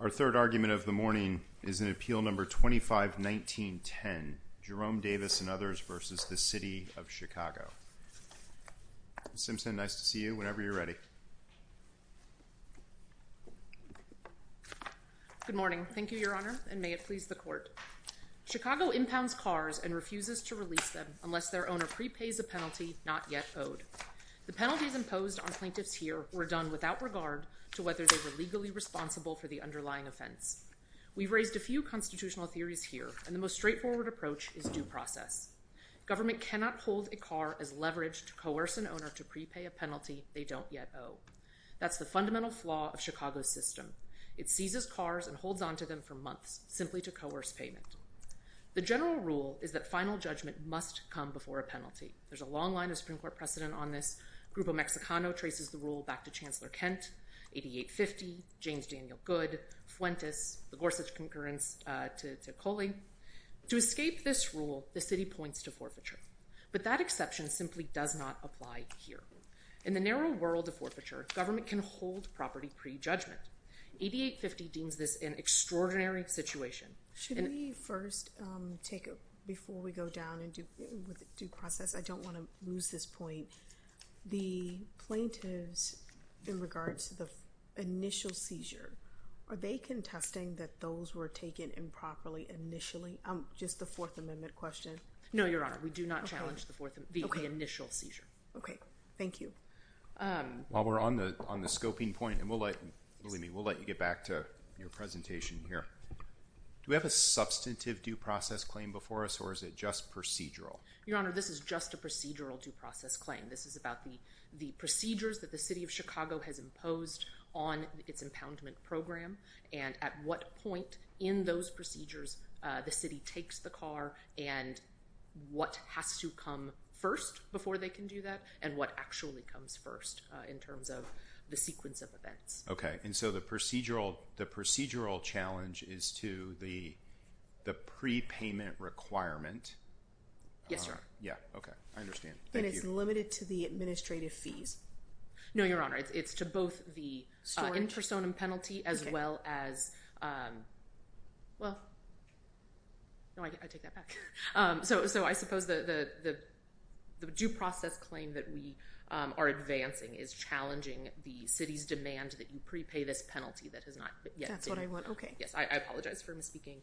Our third argument of the morning is in Appeal No. 25-19-10, Jerome Davis v. The City of Chicago. Ms. Simpson, nice to see you. Whenever you're ready. Good morning. Thank you, Your Honor, and may it please the Court. Chicago impounds cars and refuses to release them unless their owner prepays a penalty not yet owed. The penalties imposed on plaintiffs here were done without regard to whether they were legally responsible for the underlying offense. We've raised a few constitutional theories here, and the straightforward approach is due process. Government cannot hold a car as leverage to coerce an owner to prepay a penalty they don't yet owe. That's the fundamental flaw of Chicago's system. It seizes cars and holds onto them for months, simply to coerce payment. The general rule is that final judgment must come before a penalty. There's a long line of Supreme Court precedent on this. Grupo Mexicano traces the rule back to Chancellor To escape this rule, the City points to forfeiture. But that exception simply does not apply here. In the narrow world of forfeiture, government can hold property pre-judgment. 8850 deems this an extraordinary situation. Should we first take a, before we go down and do process, I don't want to lose this point. The plaintiffs, in regards to the initial seizure, are they challenging just the Fourth Amendment question? No, Your Honor. We do not challenge the initial seizure. Okay. Thank you. While we're on the scoping point, and believe me, we'll let you get back to your presentation here. Do we have a substantive due process claim before us, or is it just procedural? Your Honor, this is just a procedural due process claim. This is about the procedures that the City of Chicago has imposed on its impoundment program, and at what point in those procedures the City takes the car, and what has to come first before they can do that, and what actually comes first in terms of the sequence of events. Okay. And so the procedural challenge is to the prepayment requirement. Yes, Your Honor. Yeah. Okay. I understand. Thank you. And it's limited to the administrative fees? No, Your Honor. It's to both the intersonim penalty as well as... Well, no, I take that back. So I suppose the due process claim that we are advancing is challenging the City's demand that you prepay this penalty that has not yet been... That's what I want. Okay. Yes. I apologize for misspeaking.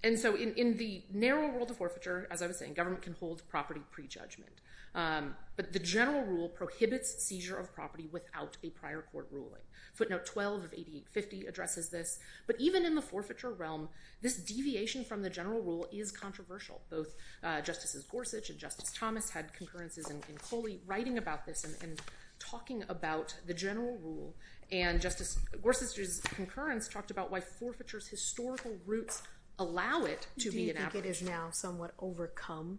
And so in the narrow world of forfeiture, as I was saying, the government can hold property prejudgment, but the general rule prohibits seizure of property without a prior court ruling. Footnote 12 of 8850 addresses this. But even in the forfeiture realm, this deviation from the general rule is controversial. Both Justices Gorsuch and Justice Thomas had concurrences in Coley writing about this and talking about the general rule, and Justice Gorsuch's concurrence talked about why forfeiture's historical roots allow it to be an average. Do you think it has now somewhat overcome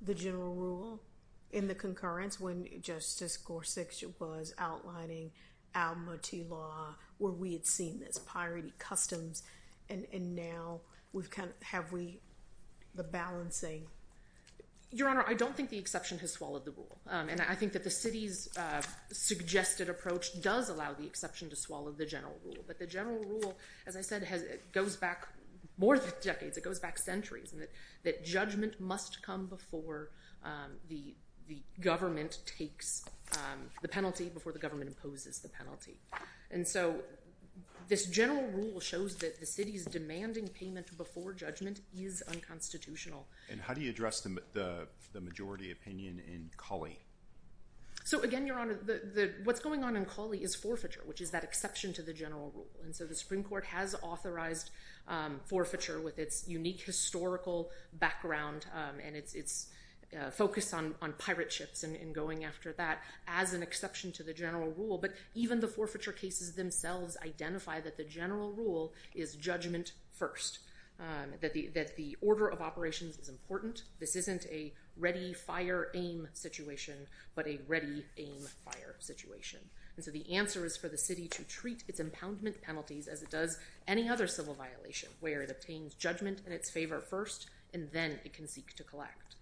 the general rule in the concurrence when Justice Gorsuch was outlining Almaty Law, where we had seen this, Pirate Customs, and now we've kind of... Have we... The balancing... Your Honor, I don't think the exception has swallowed the rule. And I think that the City's suggested approach does allow the exception to swallow the general rule. But the general rule, as I said, goes back more than decades. It goes back centuries, and that judgment must come before the government takes the penalty, before the government imposes the penalty. And so this general rule shows that the City's demanding payment before judgment is unconstitutional. And how do you address the majority opinion in Coley? So again, Your Honor, what's going on in Coley is forfeiture, which is that exception to the general rule. And so the Supreme Court has authorized forfeiture with its unique historical background and its focus on pirate ships and going after that as an exception to the general rule. But even the forfeiture cases themselves identify that the general rule is judgment first, that the order of operations is important. This isn't a ready fire aim situation, but a ready aim fire situation. And so the answer is for the City to treat its impoundment penalties as it does any other civil violation, where it obtains judgment in its favor first, and then it can seek to collect.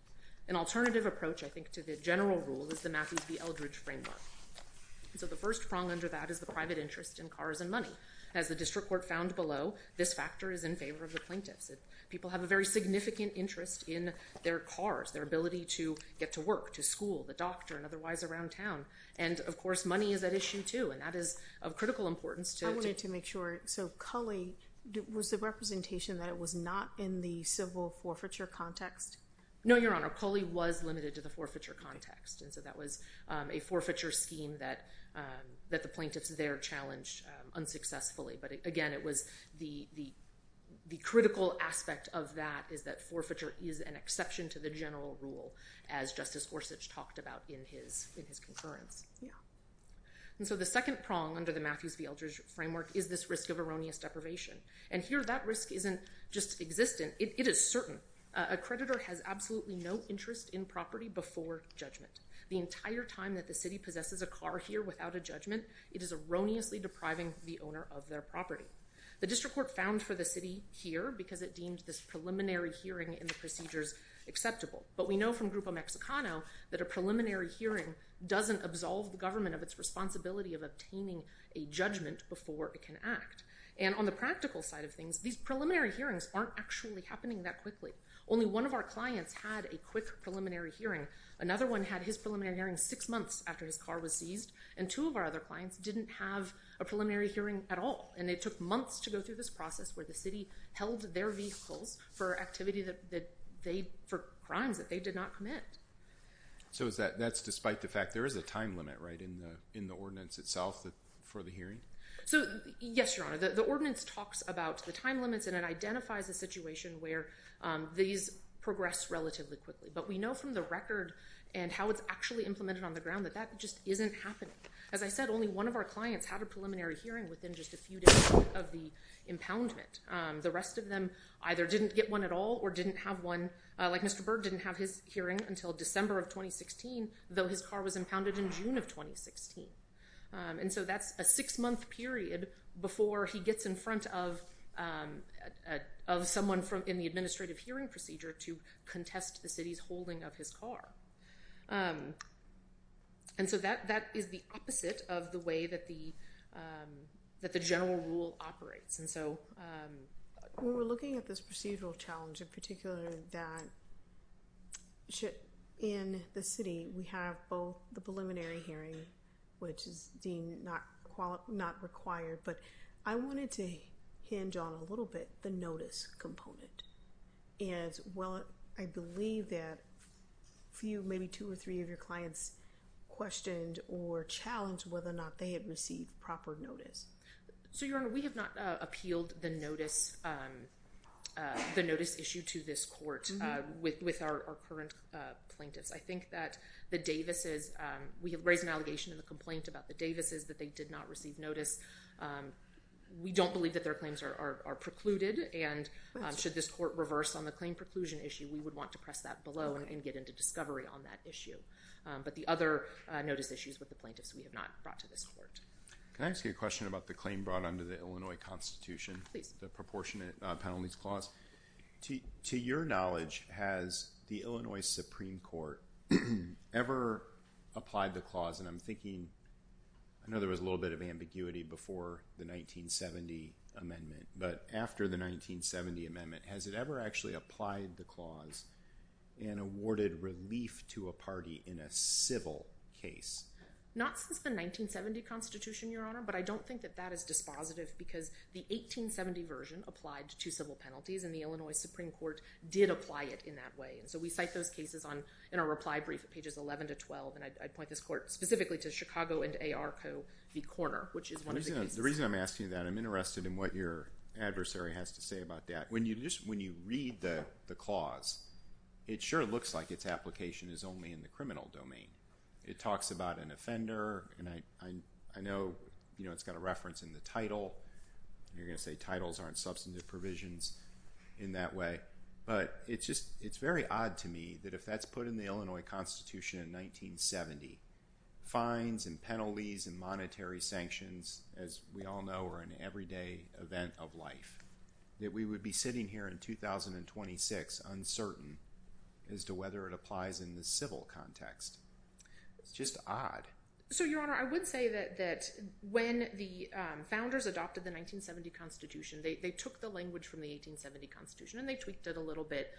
An alternative approach, I think, to the general rule is the Matthews v. Eldridge framework. So the first prong under that is the private interest in cars and money. As the District Court found below, this factor is in favor of the plaintiffs. People have a very significant interest in their cars, their ability to get to work, to school, the doctor, and otherwise around town. And, of course, money is at issue, too, and that is of critical importance. I wanted to make sure. So Culley, was the representation that it was not in the civil forfeiture context? No, Your Honor. Culley was limited to the forfeiture context. And so that was a forfeiture scheme that the plaintiffs there challenged unsuccessfully. But again, it was the critical aspect of that is that forfeiture is an exception to the general rule, as Justice Gorsuch talked about in his concurrence. Yeah. And so the second prong under the Matthews v. Eldridge framework is this risk of erroneous deprivation. And here, that risk isn't just existent. It is certain. A creditor has absolutely no interest in property before judgment. The entire time that the city possesses a car here without a judgment, it is erroneously depriving the owner of their property. The District Court found for the city here, because it deemed this preliminary hearing and the procedures acceptable. But we know from Grupo Mexicano that a preliminary hearing doesn't absolve the government of its responsibility of obtaining a judgment before it can act. And on the practical side of things, these preliminary hearings aren't actually happening that quickly. Only one of our clients had a quick preliminary hearing. Another one had his preliminary hearing six months after his car was seized. And two of our other clients didn't have a preliminary hearing at all. And it took months to go through this process where the city held their vehicles for activity that they, for crimes that they did not commit. So that's despite the fact there is a time limit, right, in the ordinance itself for the hearing? So, yes, Your Honor. The ordinance talks about the time limits and it identifies a situation where these progress relatively quickly. But we know from the record and how it's actually implemented on the ground that that just isn't happening. As I said, only one of our clients had a preliminary hearing within just a few days of the impoundment. The rest of them either didn't get one at all or didn't have one, like Mr. Berg didn't have his hearing until December of 2016, though his car was impounded in June of 2016. And so that's a six-month period before he gets in front of someone in the administrative hearing procedure to contest the city's holding of his car. And so that is the opposite of the way that the general rule operates. When we're looking at this procedural challenge, in particular that in the city we have both the preliminary hearing, which is deemed not required, but I wanted to hinge on a little bit the notice component. And I believe that a few, maybe two or three of your clients questioned or challenged whether or not they had received proper notice. So, Your Honor, we have not appealed the notice issue to this court with our current plaintiffs. I think that the Davises, we have raised an allegation in the complaint about the Davises that they did not receive notice. We don't believe that their claims are precluded and should this court reverse on the claim preclusion issue, we would want to press that below and get into discovery on that issue. But the other notice issues with the plaintiffs we have not brought to this court. Can I ask you a question about the claim brought under the Illinois Constitution? Please. The proportionate penalties clause. To your knowledge, has the Illinois Supreme Court ever applied the clause, and I'm thinking, I know there was a little bit of ambiguity before the 1970 amendment, but after the 1970 amendment, has it ever actually applied the clause and awarded relief to a party in a civil case? Not since the 1970 Constitution, Your Honor, but I don't think that that is dispositive because the 1870 version applied to civil penalties and the Illinois Supreme Court did apply it in that way. So we cite those cases in our reply brief at pages 11 to 12, and I point this court specifically to Chicago and ARCO v. Korner, which is one of the cases. The reason I'm asking that, I'm interested in what your adversary has to say about that. When you read the clause, it sure looks like its application is only in the criminal domain. It talks about an offender, and I know it's got a reference in the title, and you're going to say titles aren't substantive provisions in that way, but it's very odd to me that if that's put in the Illinois Constitution in 1970, fines and penalties and monetary sanctions, as we all know, are an everyday event of life, that we would be sitting here in 2026 uncertain as to whether it applies in the civil context. It's just odd. So Your Honor, I would say that when the founders adopted the 1970 Constitution, they took the language from the 1870 Constitution, and they tweaked it a little bit,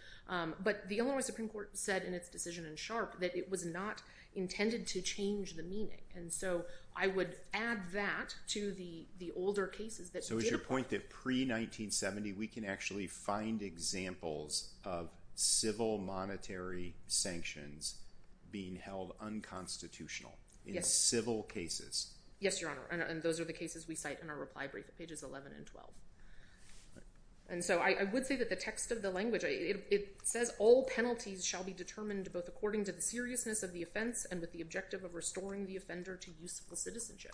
but the Illinois Supreme Court said in its decision in Sharp that it was not intended to change the meaning, and so I would add that to the older cases that did apply. But to your point that pre-1970, we can actually find examples of civil monetary sanctions being held unconstitutional in civil cases. Yes, Your Honor, and those are the cases we cite in our reply brief at pages 11 and 12. And so I would say that the text of the language, it says all penalties shall be determined both according to the seriousness of the offense and with the objective of restoring the offender to useful citizenship.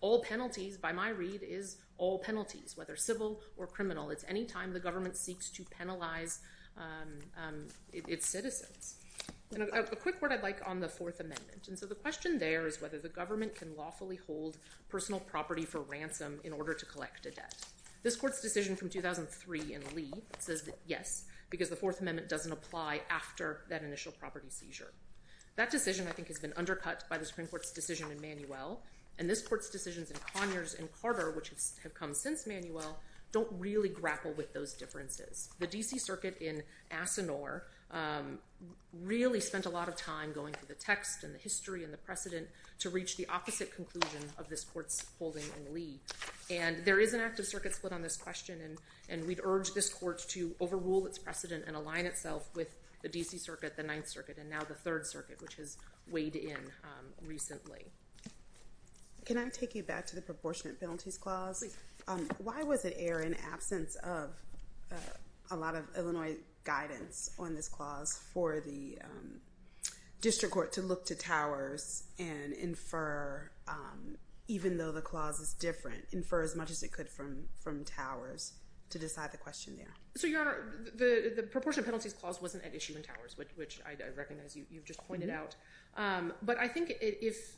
All penalties, by my read, is all penalties, whether civil or criminal. It's any time the government seeks to penalize its citizens. And a quick word I'd like on the Fourth Amendment, and so the question there is whether the government can lawfully hold personal property for ransom in order to collect a debt. This Court's decision from 2003 in Lee says that yes, because the Fourth Amendment doesn't apply after that initial property seizure. That decision, I think, has been undercut by the Supreme Court's decision in Manuel, and this Court's decisions in Conyers and Carter, which have come since Manuel, don't really grapple with those differences. The D.C. Circuit in Asinore really spent a lot of time going through the text and the history and the precedent to reach the opposite conclusion of this Court's holding in Lee. And there is an active circuit split on this question, and we'd urge this Court to overrule its precedent and align itself with the D.C. Circuit, the Ninth Circuit, and now the Third Circuit, which has weighed in recently. Can I take you back to the proportionate penalties clause? Why was it error in absence of a lot of Illinois guidance on this clause for the district court to look to Towers and infer, even though the clause is different, infer as much as it could from Towers to decide the question there? So, Your Honor, the proportionate penalties clause wasn't at issue in Towers, which I recognize you've just pointed out. But I think if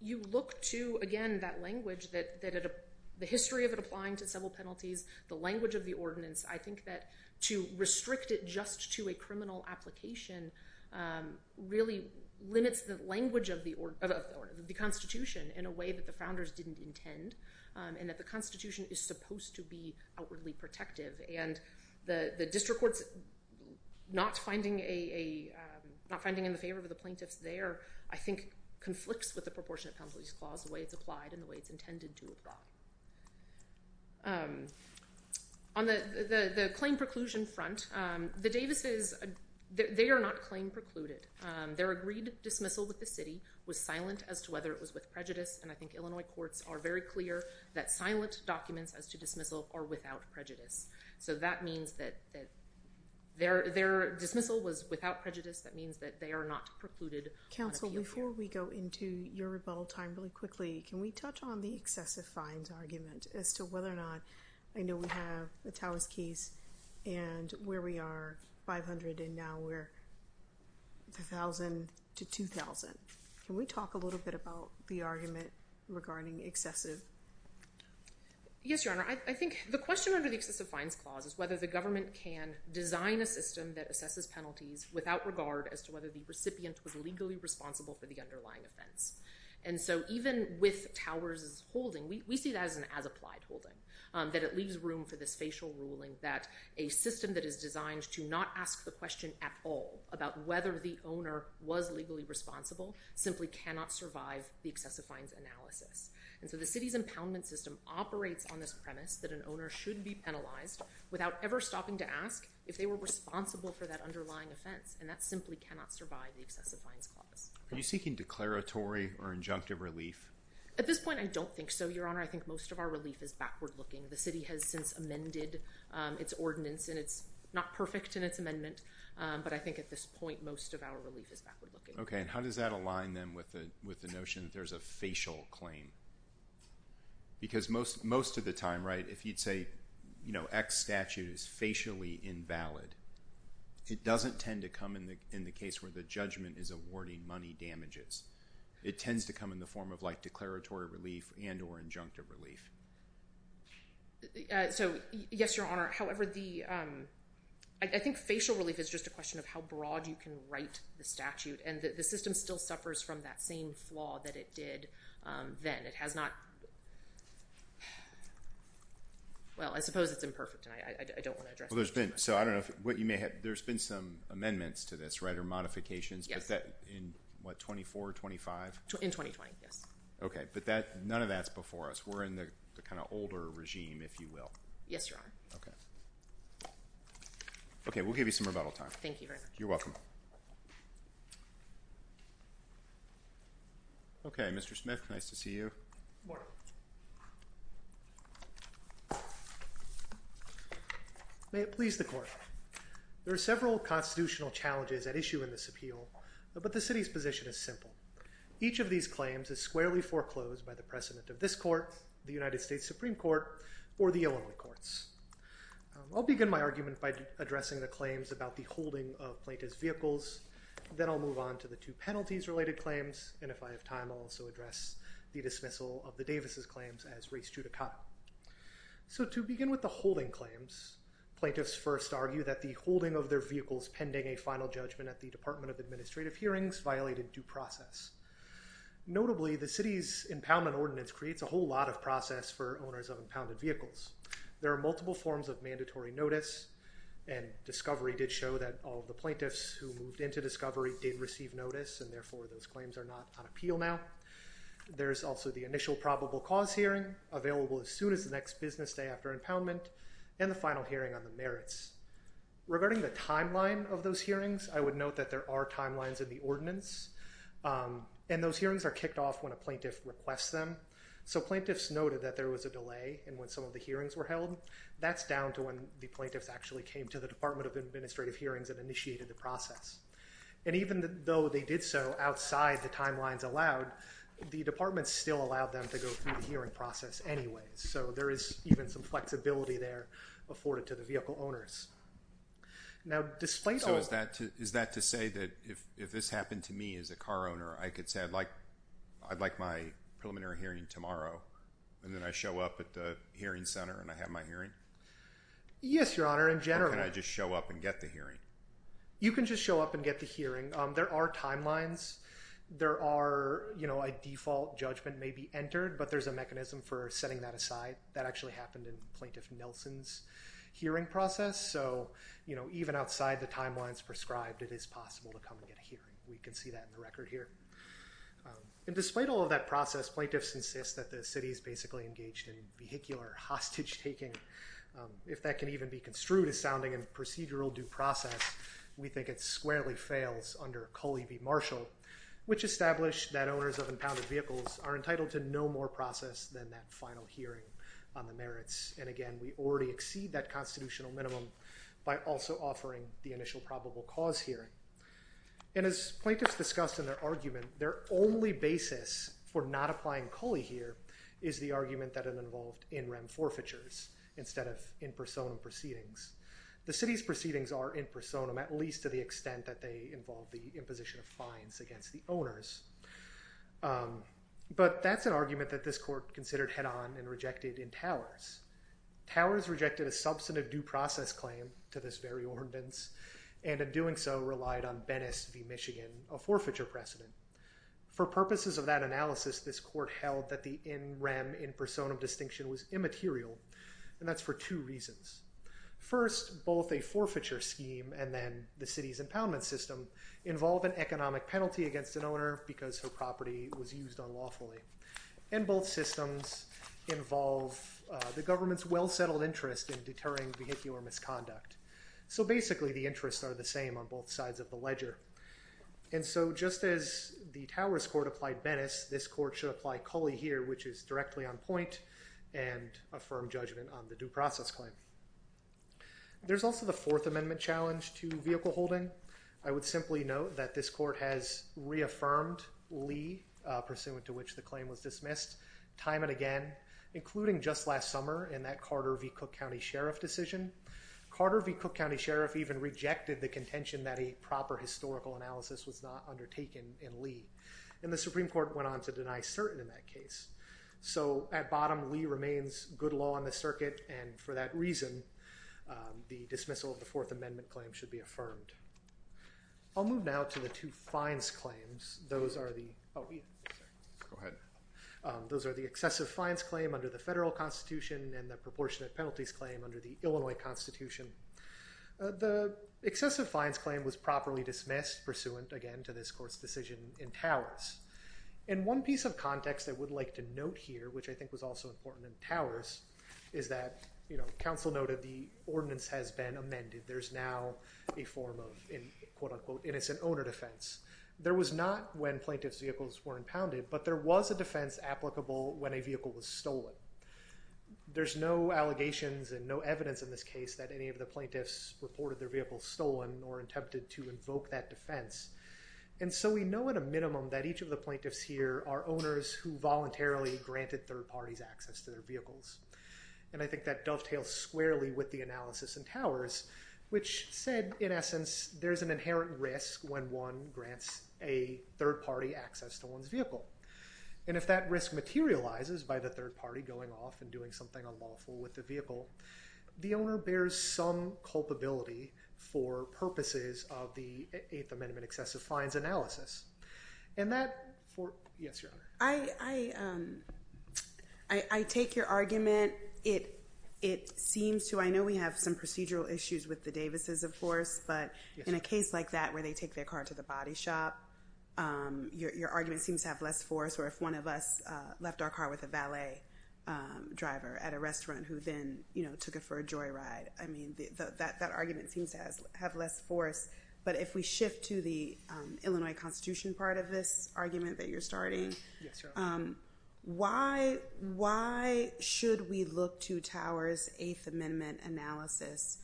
you look to, again, that language, the history of it applying to several penalties, the language of the ordinance, I think that to restrict it just to a criminal application really limits the language of the Constitution in a way that the Founders didn't intend, and that the Constitution is supposed to be outwardly protective. And the district courts not finding in the favor of the plaintiffs there, I think, conflicts with the proportionate penalties clause, the way it's applied and the way it's intended to apply. On the claim preclusion front, the Davises, they are not claim precluded. Their agreed dismissal with the city was silent as to whether it was with prejudice, and I think the Illinois courts are very clear that silent documents as to dismissal are without prejudice. So that means that their dismissal was without prejudice, that means that they are not precluded on appeal court. Counsel, before we go into your rebuttal time really quickly, can we touch on the excessive fines argument as to whether or not, I know we have a Towers case, and where we are, 500, and now we're 1,000 to 2,000. Can we talk a little bit about the argument regarding excessive? Yes, Your Honor. I think the question under the excessive fines clause is whether the government can design a system that assesses penalties without regard as to whether the recipient was legally responsible for the underlying offense. And so even with Towers' holding, we see that as an as-applied holding, that it leaves room for this facial ruling that a system that is designed to not ask the question at all about whether the owner was legally responsible simply cannot survive the excessive fines analysis. And so the city's impoundment system operates on this premise that an owner should be penalized without ever stopping to ask if they were responsible for that underlying offense, and that simply cannot survive the excessive fines clause. Are you seeking declaratory or injunctive relief? At this point, I don't think so, Your Honor. I think most of our relief is backward-looking. The city has since amended its ordinance, and it's not perfect in its amendment, but I think at this point, most of our relief is backward-looking. Okay, and how does that align then with the notion that there's a facial claim? Because most of the time, right, if you'd say, you know, X statute is facially invalid, it doesn't tend to come in the case where the judgment is awarding money damages. It tends to come in the form of, like, declaratory relief and or injunctive relief. So, yes, Your Honor. However, I think facial relief is just a question of how broad you can write the statute, and the system still suffers from that same flaw that it did then. It has not, well, I suppose it's imperfect, and I don't want to address it too much. Well, there's been, so I don't know if, what you may have, there's been some amendments to this, right? Or modifications. Yes. Is that in, what, 24, 25? In 2020, yes. Okay, but none of that's before us. We're in the kind of older regime, if you will. Yes, Your Honor. Okay. Okay, we'll give you some rebuttal time. Thank you very much. You're welcome. Okay, Mr. Smith, nice to see you. Good morning. May it please the Court. There are several constitutional challenges at issue in this appeal, but the city's position is simple. Each of these claims is squarely foreclosed by the precedent of this Court, the United States Supreme Court, or the Illinois Courts. I'll begin my argument by addressing the claims about the holding of plaintiff's vehicles, then I'll move on to the two penalties-related claims, and if I have time, I'll also address the dismissal of the Davis' claims as race judicata. So to begin with the holding claims, plaintiffs first argue that the holding of their vehicles pending a final judgment at the Department of Administrative Hearings violated due process. Notably, the city's impoundment ordinance creates a whole lot of process for owners of impounded vehicles. There are multiple forms of mandatory notice, and discovery did show that all of the plaintiffs who moved into discovery did receive notice, and therefore those claims are not on appeal now. There's also the initial probable cause hearing, available as soon as the next business day after impoundment, and the final hearing on the merits. Regarding the timeline of those hearings, I would note that there are timelines in the ordinance, and those hearings are kicked off when a plaintiff requests them. So plaintiffs noted that there was a delay in when some of the hearings were held. That's down to when the plaintiffs actually came to the Department of Administrative Hearings and initiated the process, and even though they did so outside the timelines allowed, the department still allowed them to go through the hearing process anyways, so there is even some flexibility there afforded to the vehicle owners. Now displace... So is that to say that if this happened to me as a car owner, I could say I'd like my preliminary hearing tomorrow, and then I show up at the hearing center and I have my hearing? Yes, Your Honor, in general. Or can I just show up and get the hearing? You can just show up and get the hearing. There are timelines. There are, you know, a default judgment may be entered, but there's a mechanism for setting that aside. That actually happened in Plaintiff Nelson's hearing process, so, you know, even outside the timelines prescribed, it is possible to come and get a hearing. We can see that in the record here. And despite all of that process, plaintiffs insist that the city is basically engaged in vehicular hostage-taking. If that can even be construed as sounding in procedural due process, we think it squarely fails under Culley v. Marshall, which established that owners of impounded vehicles are entitled to no more process than that final hearing on the merits. And again, we already exceed that constitutional minimum by also offering the initial probable cause hearing. And as plaintiffs discussed in their argument, their only basis for not applying Culley here is the argument that it involved in-rem forfeitures instead of in-personam proceedings. The city's proceedings are in-personam, at least to the extent that they involve the imposition of fines against the owners. But that's an argument that this court considered head-on and rejected in Towers. Towers rejected a substantive due process claim to this very ordinance, and in doing so relied on Bennis v. Michigan, a forfeiture precedent. For purposes of that analysis, this court held that the in-rem, in-personam distinction was immaterial, and that's for two reasons. First, both a forfeiture scheme and then the city's impoundment system involve an economic penalty against an owner because her property was used unlawfully. And both systems involve the government's well-settled interest in deterring vehicular misconduct. So basically the interests are the same on both sides of the ledger. And so just as the Towers court applied Bennis, this court should apply Culley here, which is directly on point and a firm judgment on the due process claim. There's also the Fourth Amendment challenge to vehicle holding. I would simply note that this court has reaffirmed Lee pursuant to which the claim was dismissed time and again, including just last summer in that Carter v. Cook County Sheriff decision. Carter v. Cook County Sheriff even rejected the contention that a proper historical analysis was not undertaken in Lee, and the Supreme Court went on to deny certain in that case. So at bottom, Lee remains good law on the circuit, and for that reason, the dismissal of the Fourth Amendment claim should be affirmed. I'll move now to the two fines claims. Those are the... Oh, yeah. Go ahead. Those are the excessive fines claim under the federal constitution and the proportionate penalties claim under the Illinois constitution. The excessive fines claim was properly dismissed pursuant, again, to this court's decision in Towers. And one piece of context I would like to note here, which I think was also important in Towers, is that counsel noted the ordinance has been amended. There's now a form of, quote unquote, innocent owner defense. There was not when plaintiff's vehicles were impounded, but there was a defense applicable when a vehicle was stolen. There's no allegations and no evidence in this case that any of the plaintiffs reported their vehicle stolen or attempted to invoke that defense. And so we know at a minimum that each of the plaintiffs here are owners who voluntarily granted third parties access to their vehicles. And I think that dovetails squarely with the analysis in Towers, which said, in essence, there's an inherent risk when one grants a third party access to one's vehicle. And if that risk materializes by the third party going off and doing something unlawful with the vehicle, the owner bears some culpability for purposes of the Eighth Amendment excessive fines analysis. And that... Yes, Your Honor. I take your argument. It seems to... I know we have some procedural issues with the Davises, of course, but in a case like that where they take their car to the body shop, your argument seems to have less force. Or if one of us left our car with a valet driver at a restaurant who then took it for a joyride. I mean, that argument seems to have less force. But if we shift to the Illinois Constitution part of this argument that you're starting, why should we look to Towers' Eighth Amendment analysis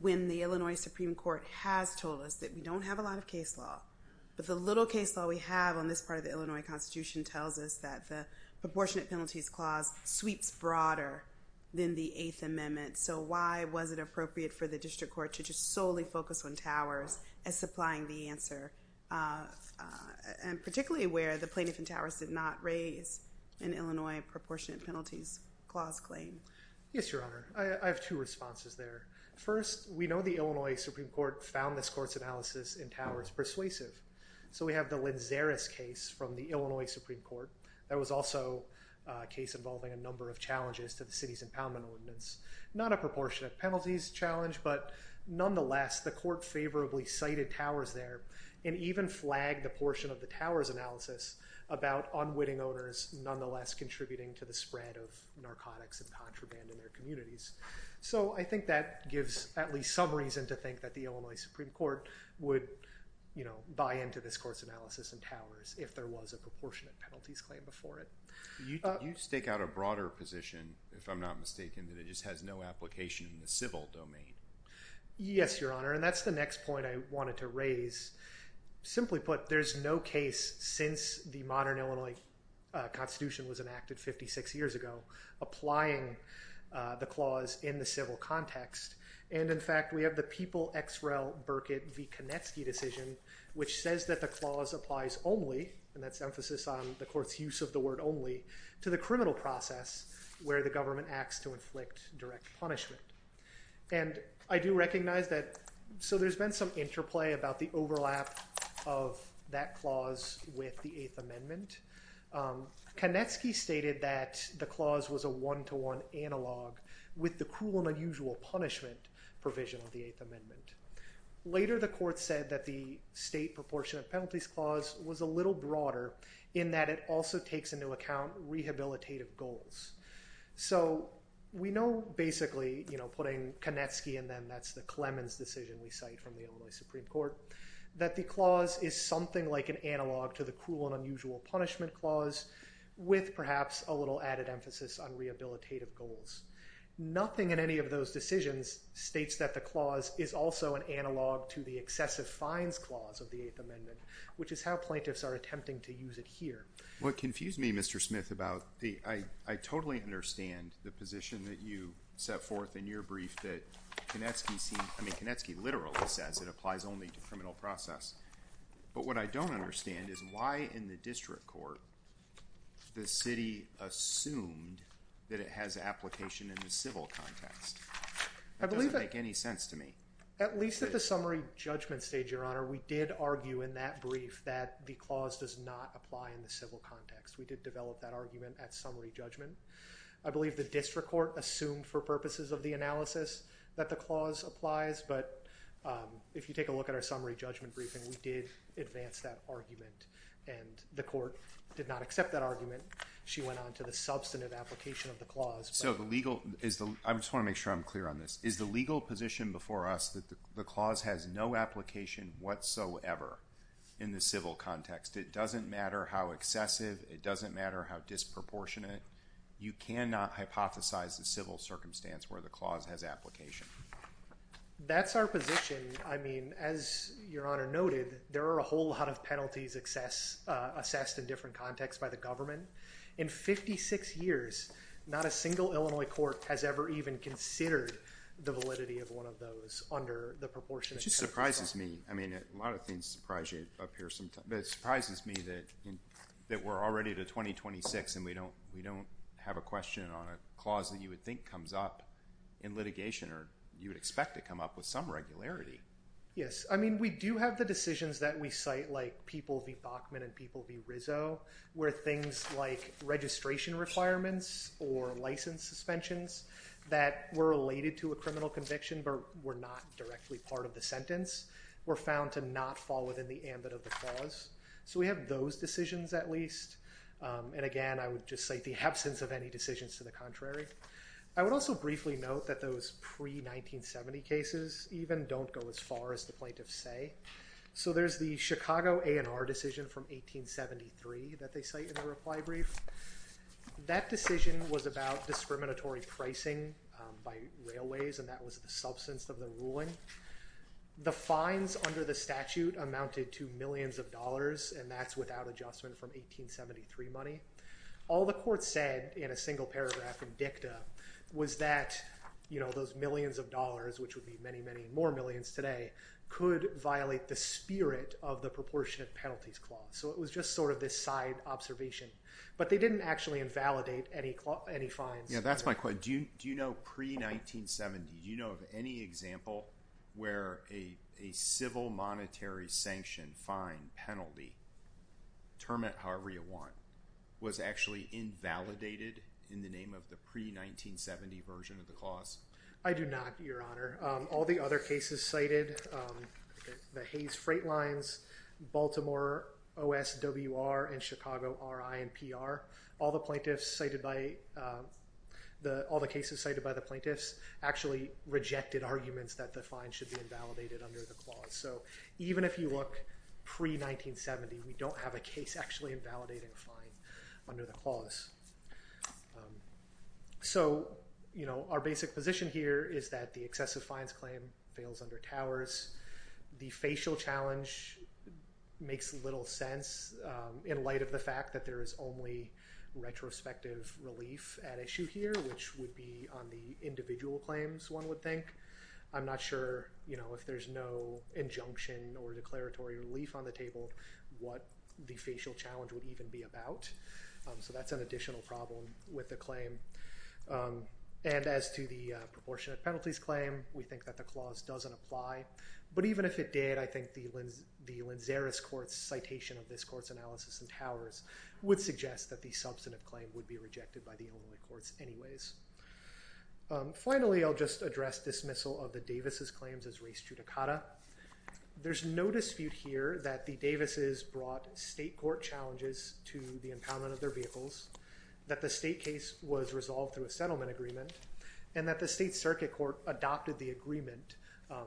when the Illinois Supreme Court has told us that we don't have a lot of case law, but the little case law we have on this part of the Illinois Constitution tells us that the Proportionate Penalties Clause sweeps broader than the Eighth Amendment. So why was it appropriate for the District Court to just solely focus on Towers as supplying the answer? And particularly where the plaintiff in Towers did not raise an Illinois Proportionate Penalties Clause claim? Yes, Your Honor. I have two responses there. First, we know the Illinois Supreme Court found this court's analysis in Towers persuasive. So we have the Linzeris case from the Illinois Supreme Court that was also a case involving a number of challenges to the city's impoundment ordinance. Not a proportionate penalties challenge, but nonetheless, the court favorably cited Towers there and even flagged the portion of the Towers analysis about unwitting owners nonetheless contributing to the spread of narcotics and contraband in their communities. So I think that gives at least some reason to think that the Illinois Supreme Court would buy into this court's analysis in Towers if there was a proportionate penalties claim before it. You stake out a broader position, if I'm not mistaken, that it just has no application in the civil domain. Yes, Your Honor. And that's the next point I wanted to raise. Simply put, there's no case since the modern Illinois Constitution was enacted 56 years ago applying the clause in the civil context. And in fact, we have the People x Rel Burkitt v Konecki decision, which says that the clause applies only, and that's emphasis on the court's use of the word only, to the criminal process where the government acts to inflict direct punishment. And I do recognize that, so there's been some interplay about the overlap of that clause with the Eighth Amendment. Konecki stated that the clause was a one-to-one analog with the cruel and unusual punishment provision of the Eighth Amendment. Later, the court said that the state proportionate penalties clause was a little broader in that it also takes into account rehabilitative goals. So we know basically, putting Konecki in them, that's the Clemens decision we cite from the Illinois Supreme Court, that the clause is something like an analog to the cruel and unusual punishment clause with perhaps a little added emphasis on rehabilitative goals. Nothing in any of those decisions states that the clause is also an analog to the excessive fines clause of the Eighth Amendment, which is how plaintiffs are attempting to use it here. Well, it confused me, Mr. Smith, about the, I totally understand the position that you set forth in your brief that Konecki seems, I mean, Konecki literally says it applies only to criminal process. But what I don't understand is why, in the district court, the city assumed that it has application in the civil context. It doesn't make any sense to me. At least at the summary judgment stage, Your Honor, we did argue in that brief that the clause does not apply in the civil context. We did develop that argument at summary judgment. I believe the district court assumed for purposes of the analysis that the clause applies, but if you take a look at our summary judgment briefing, we did advance that argument, and the court did not accept that argument. She went on to the substantive application of the clause. So the legal, I just want to make sure I'm clear on this. Is the legal position before us that the clause has no application whatsoever in the civil context? It doesn't matter how excessive, it doesn't matter how disproportionate. You cannot hypothesize the civil circumstance where the clause has application. That's our position. I mean, as Your Honor noted, there are a whole lot of penalties assessed in different contexts by the government. In 56 years, not a single Illinois court has ever even considered the validity of one of those under the proportionate. It just surprises me. I mean, a lot of things surprise you up here sometimes, but it surprises me that we're already to 2026, and we don't have a question on a clause that you would think comes up in litigation or you would expect to come up with some regularity. Yes. I mean, we do have the decisions that we cite, like People v. Bachman and People v. Rizzo, where things like registration requirements or license suspensions that were related to a criminal conviction but were not directly part of the sentence were found to not fall within the ambit of the clause. So we have those decisions, at least, and again, I would just cite the absence of any decisions to the contrary. I would also briefly note that those pre-1970 cases even don't go as far as the plaintiffs say. So there's the Chicago A&R decision from 1873 that they cite in the reply brief. That decision was about discriminatory pricing by railways, and that was the substance of the ruling. The fines under the statute amounted to millions of dollars, and that's without adjustment from 1873 money. All the court said in a single paragraph in dicta was that, you know, those millions of dollars, which would be many, many more millions today, could violate the spirit of the proportionate penalties clause. So it was just sort of this side observation. But they didn't actually invalidate any fines. Yeah, that's my question. Do you know, pre-1970, do you know of any example where a civil monetary sanctioned fine penalty, term it however you want, was actually invalidated in the name of the pre-1970 version of the clause? I do not, Your Honor. All the other cases cited, the Hayes Freight Lines, Baltimore OSWR, and Chicago RINPR, all the plaintiffs cited by, all the cases cited by the plaintiffs actually rejected arguments that the fine should be invalidated under the clause. So even if you look pre-1970, we don't have a case actually invalidating a fine under the clause. So, you know, our basic position here is that the excessive fines claim fails under Towers. The facial challenge makes little sense in light of the fact that there is only retrospective relief at issue here, which would be on the individual claims, one would think. I'm not sure, you know, if there's no injunction or declaratory relief on the table, what the facial challenge would even be about. So that's an additional problem with the claim. And as to the proportionate penalties claim, we think that the clause doesn't apply. But even if it did, I think the Linzeris Court's citation of this court's analysis in Towers would suggest that the substantive claim would be rejected by the Illinois courts anyways. Finally, I'll just address dismissal of the Davis's claims as race judicata. There's no dispute here that the Davis's brought state court challenges to the impoundment of their vehicles, that the state case was resolved through a settlement agreement, and that the state circuit court adopted the agreement.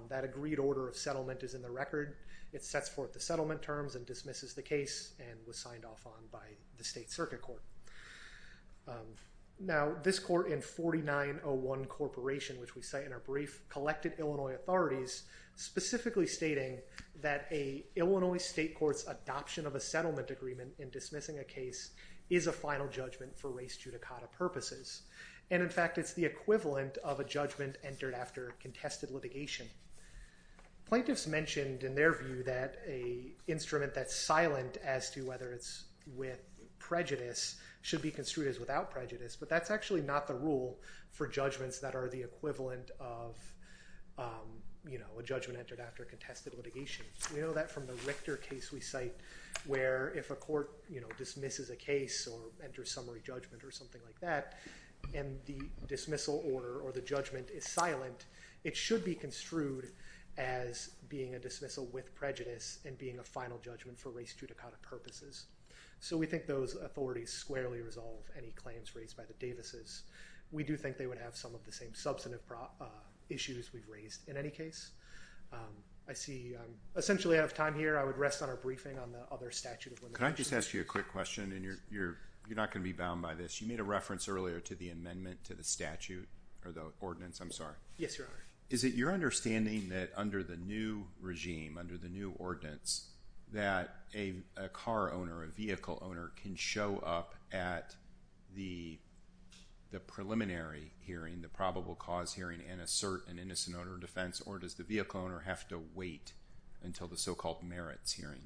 That agreed order of settlement is in the record. It sets forth the settlement terms and dismisses the case and was signed off on by the state circuit court. Now, this court in 4901 Corporation, which we cite in our brief, collected Illinois authorities, specifically stating that a Illinois state court's adoption of a settlement agreement in dismissing a case is a final judgment for race judicata purposes. And in fact, it's the equivalent of a judgment entered after contested litigation. Plaintiffs mentioned in their view that a instrument that's silent as to whether it's with prejudice should be construed as without prejudice. But that's actually not the rule for judgments that are the equivalent of, you know, a judgment entered after contested litigation. We know that from the Richter case we cite, where if a court, you know, dismisses a case or enters summary judgment or something like that, and the dismissal order or the judgment is silent, it should be construed as being a dismissal with prejudice and being a final judgment for race judicata purposes. So we think those authorities squarely resolve any claims raised by the Davis's. We do think they would have some of the same substantive issues we've raised in any case. I see I'm essentially out of time here. I would rest on our briefing on the other statute of limitations. Can I just ask you a quick question? And you're not going to be bound by this. You made a reference earlier to the amendment to the statute or the ordinance. I'm sorry. Yes, Your Honor. Is it your understanding that under the new regime, under the new ordinance, that a car owner, a vehicle owner can show up at the preliminary hearing, the probable cause hearing, and assert an innocent owner defense? Or does the vehicle owner have to wait until the so-called merits hearing?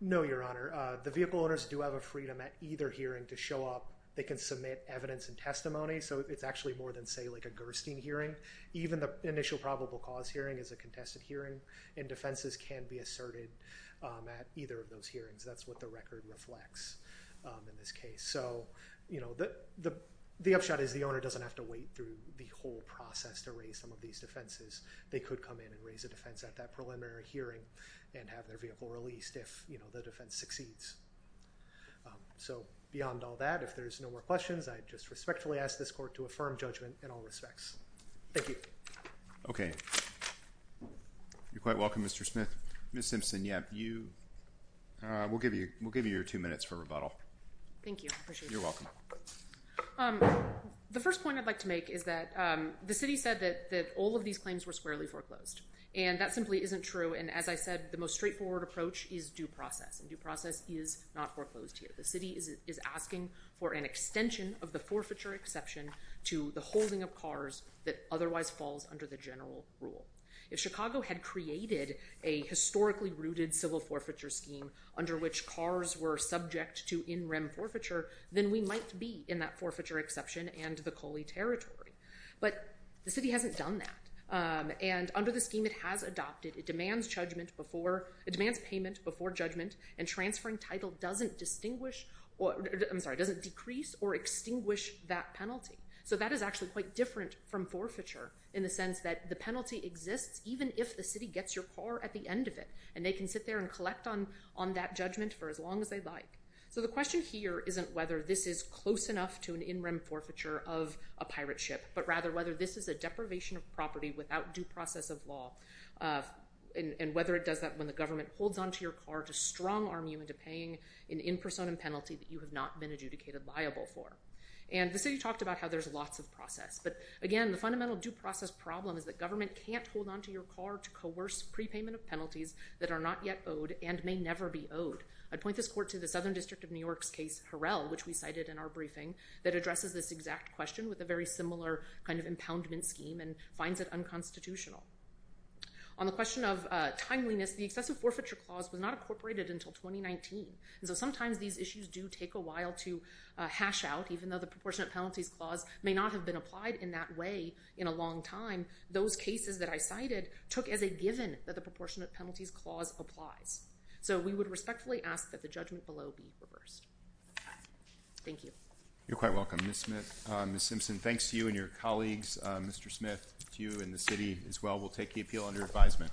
No, Your Honor. The vehicle owners do have a freedom at either hearing to show up. They can submit evidence and testimony. So it's actually more than, say, like a Gerstein hearing. Even the initial probable cause hearing is a contested hearing. And defenses can be asserted at either of those hearings. That's what the record reflects in this case. So, you know, the upshot is the owner doesn't have to wait through the whole process to raise some of these defenses. They could come in and raise a defense at that preliminary hearing and have their vehicle released if, you know, the defense succeeds. So beyond all that, if there's no more questions, I just respectfully ask this court to affirm judgment in all respects. Thank you. Okay. You're quite welcome, Mr. Smith. Ms. Simpson, yeah, you, we'll give you your two minutes for rebuttal. Thank you. I appreciate it. You're welcome. The first point I'd like to make is that the city said that all of these claims were squarely foreclosed. And that simply isn't true. And as I said, the most straightforward approach is due process, and due process is not foreclosed here. The city is asking for an extension of the forfeiture exception to the holding of cars that otherwise falls under the general rule. If Chicago had created a historically rooted civil forfeiture scheme under which cars were subject to in-rim forfeiture, then we might be in that forfeiture exception and the Coley Territory. But the city hasn't done that. And under the scheme it has adopted, it demands judgment before, it demands payment before judgment and transferring title doesn't distinguish, I'm sorry, doesn't decrease or extinguish that penalty. So that is actually quite different from forfeiture in the sense that the penalty exists even if the city gets your car at the end of it. And they can sit there and collect on that judgment for as long as they'd like. So the question here isn't whether this is close enough to an in-rim forfeiture of a pirate ship, but rather whether this is a deprivation of property without due process of law, and whether it does that when the government holds onto your car to strong arm you into paying an in person and penalty that you have not been adjudicated liable for. And the city talked about how there's lots of process, but again, the fundamental due process problem is that government can't hold onto your car to coerce prepayment of penalties that are not yet owed and may never be owed. I'd point this court to the Southern District of New York's case, Harrell, which we cited in our briefing, that addresses this exact question with a very similar kind of impoundment scheme and finds it unconstitutional. On the question of timeliness, the excessive forfeiture clause was not incorporated until 2019. And so sometimes these issues do take a while to hash out, even though the proportionate penalties clause may not have been applied in that way in a long time. And those cases that I cited took as a given that the proportionate penalties clause applies. So we would respectfully ask that the judgment below be reversed. Thank you. You're quite welcome. Ms. Simpson, thanks to you and your colleagues, Mr. Smith, to you and the city as well. We'll take the appeal under advisement.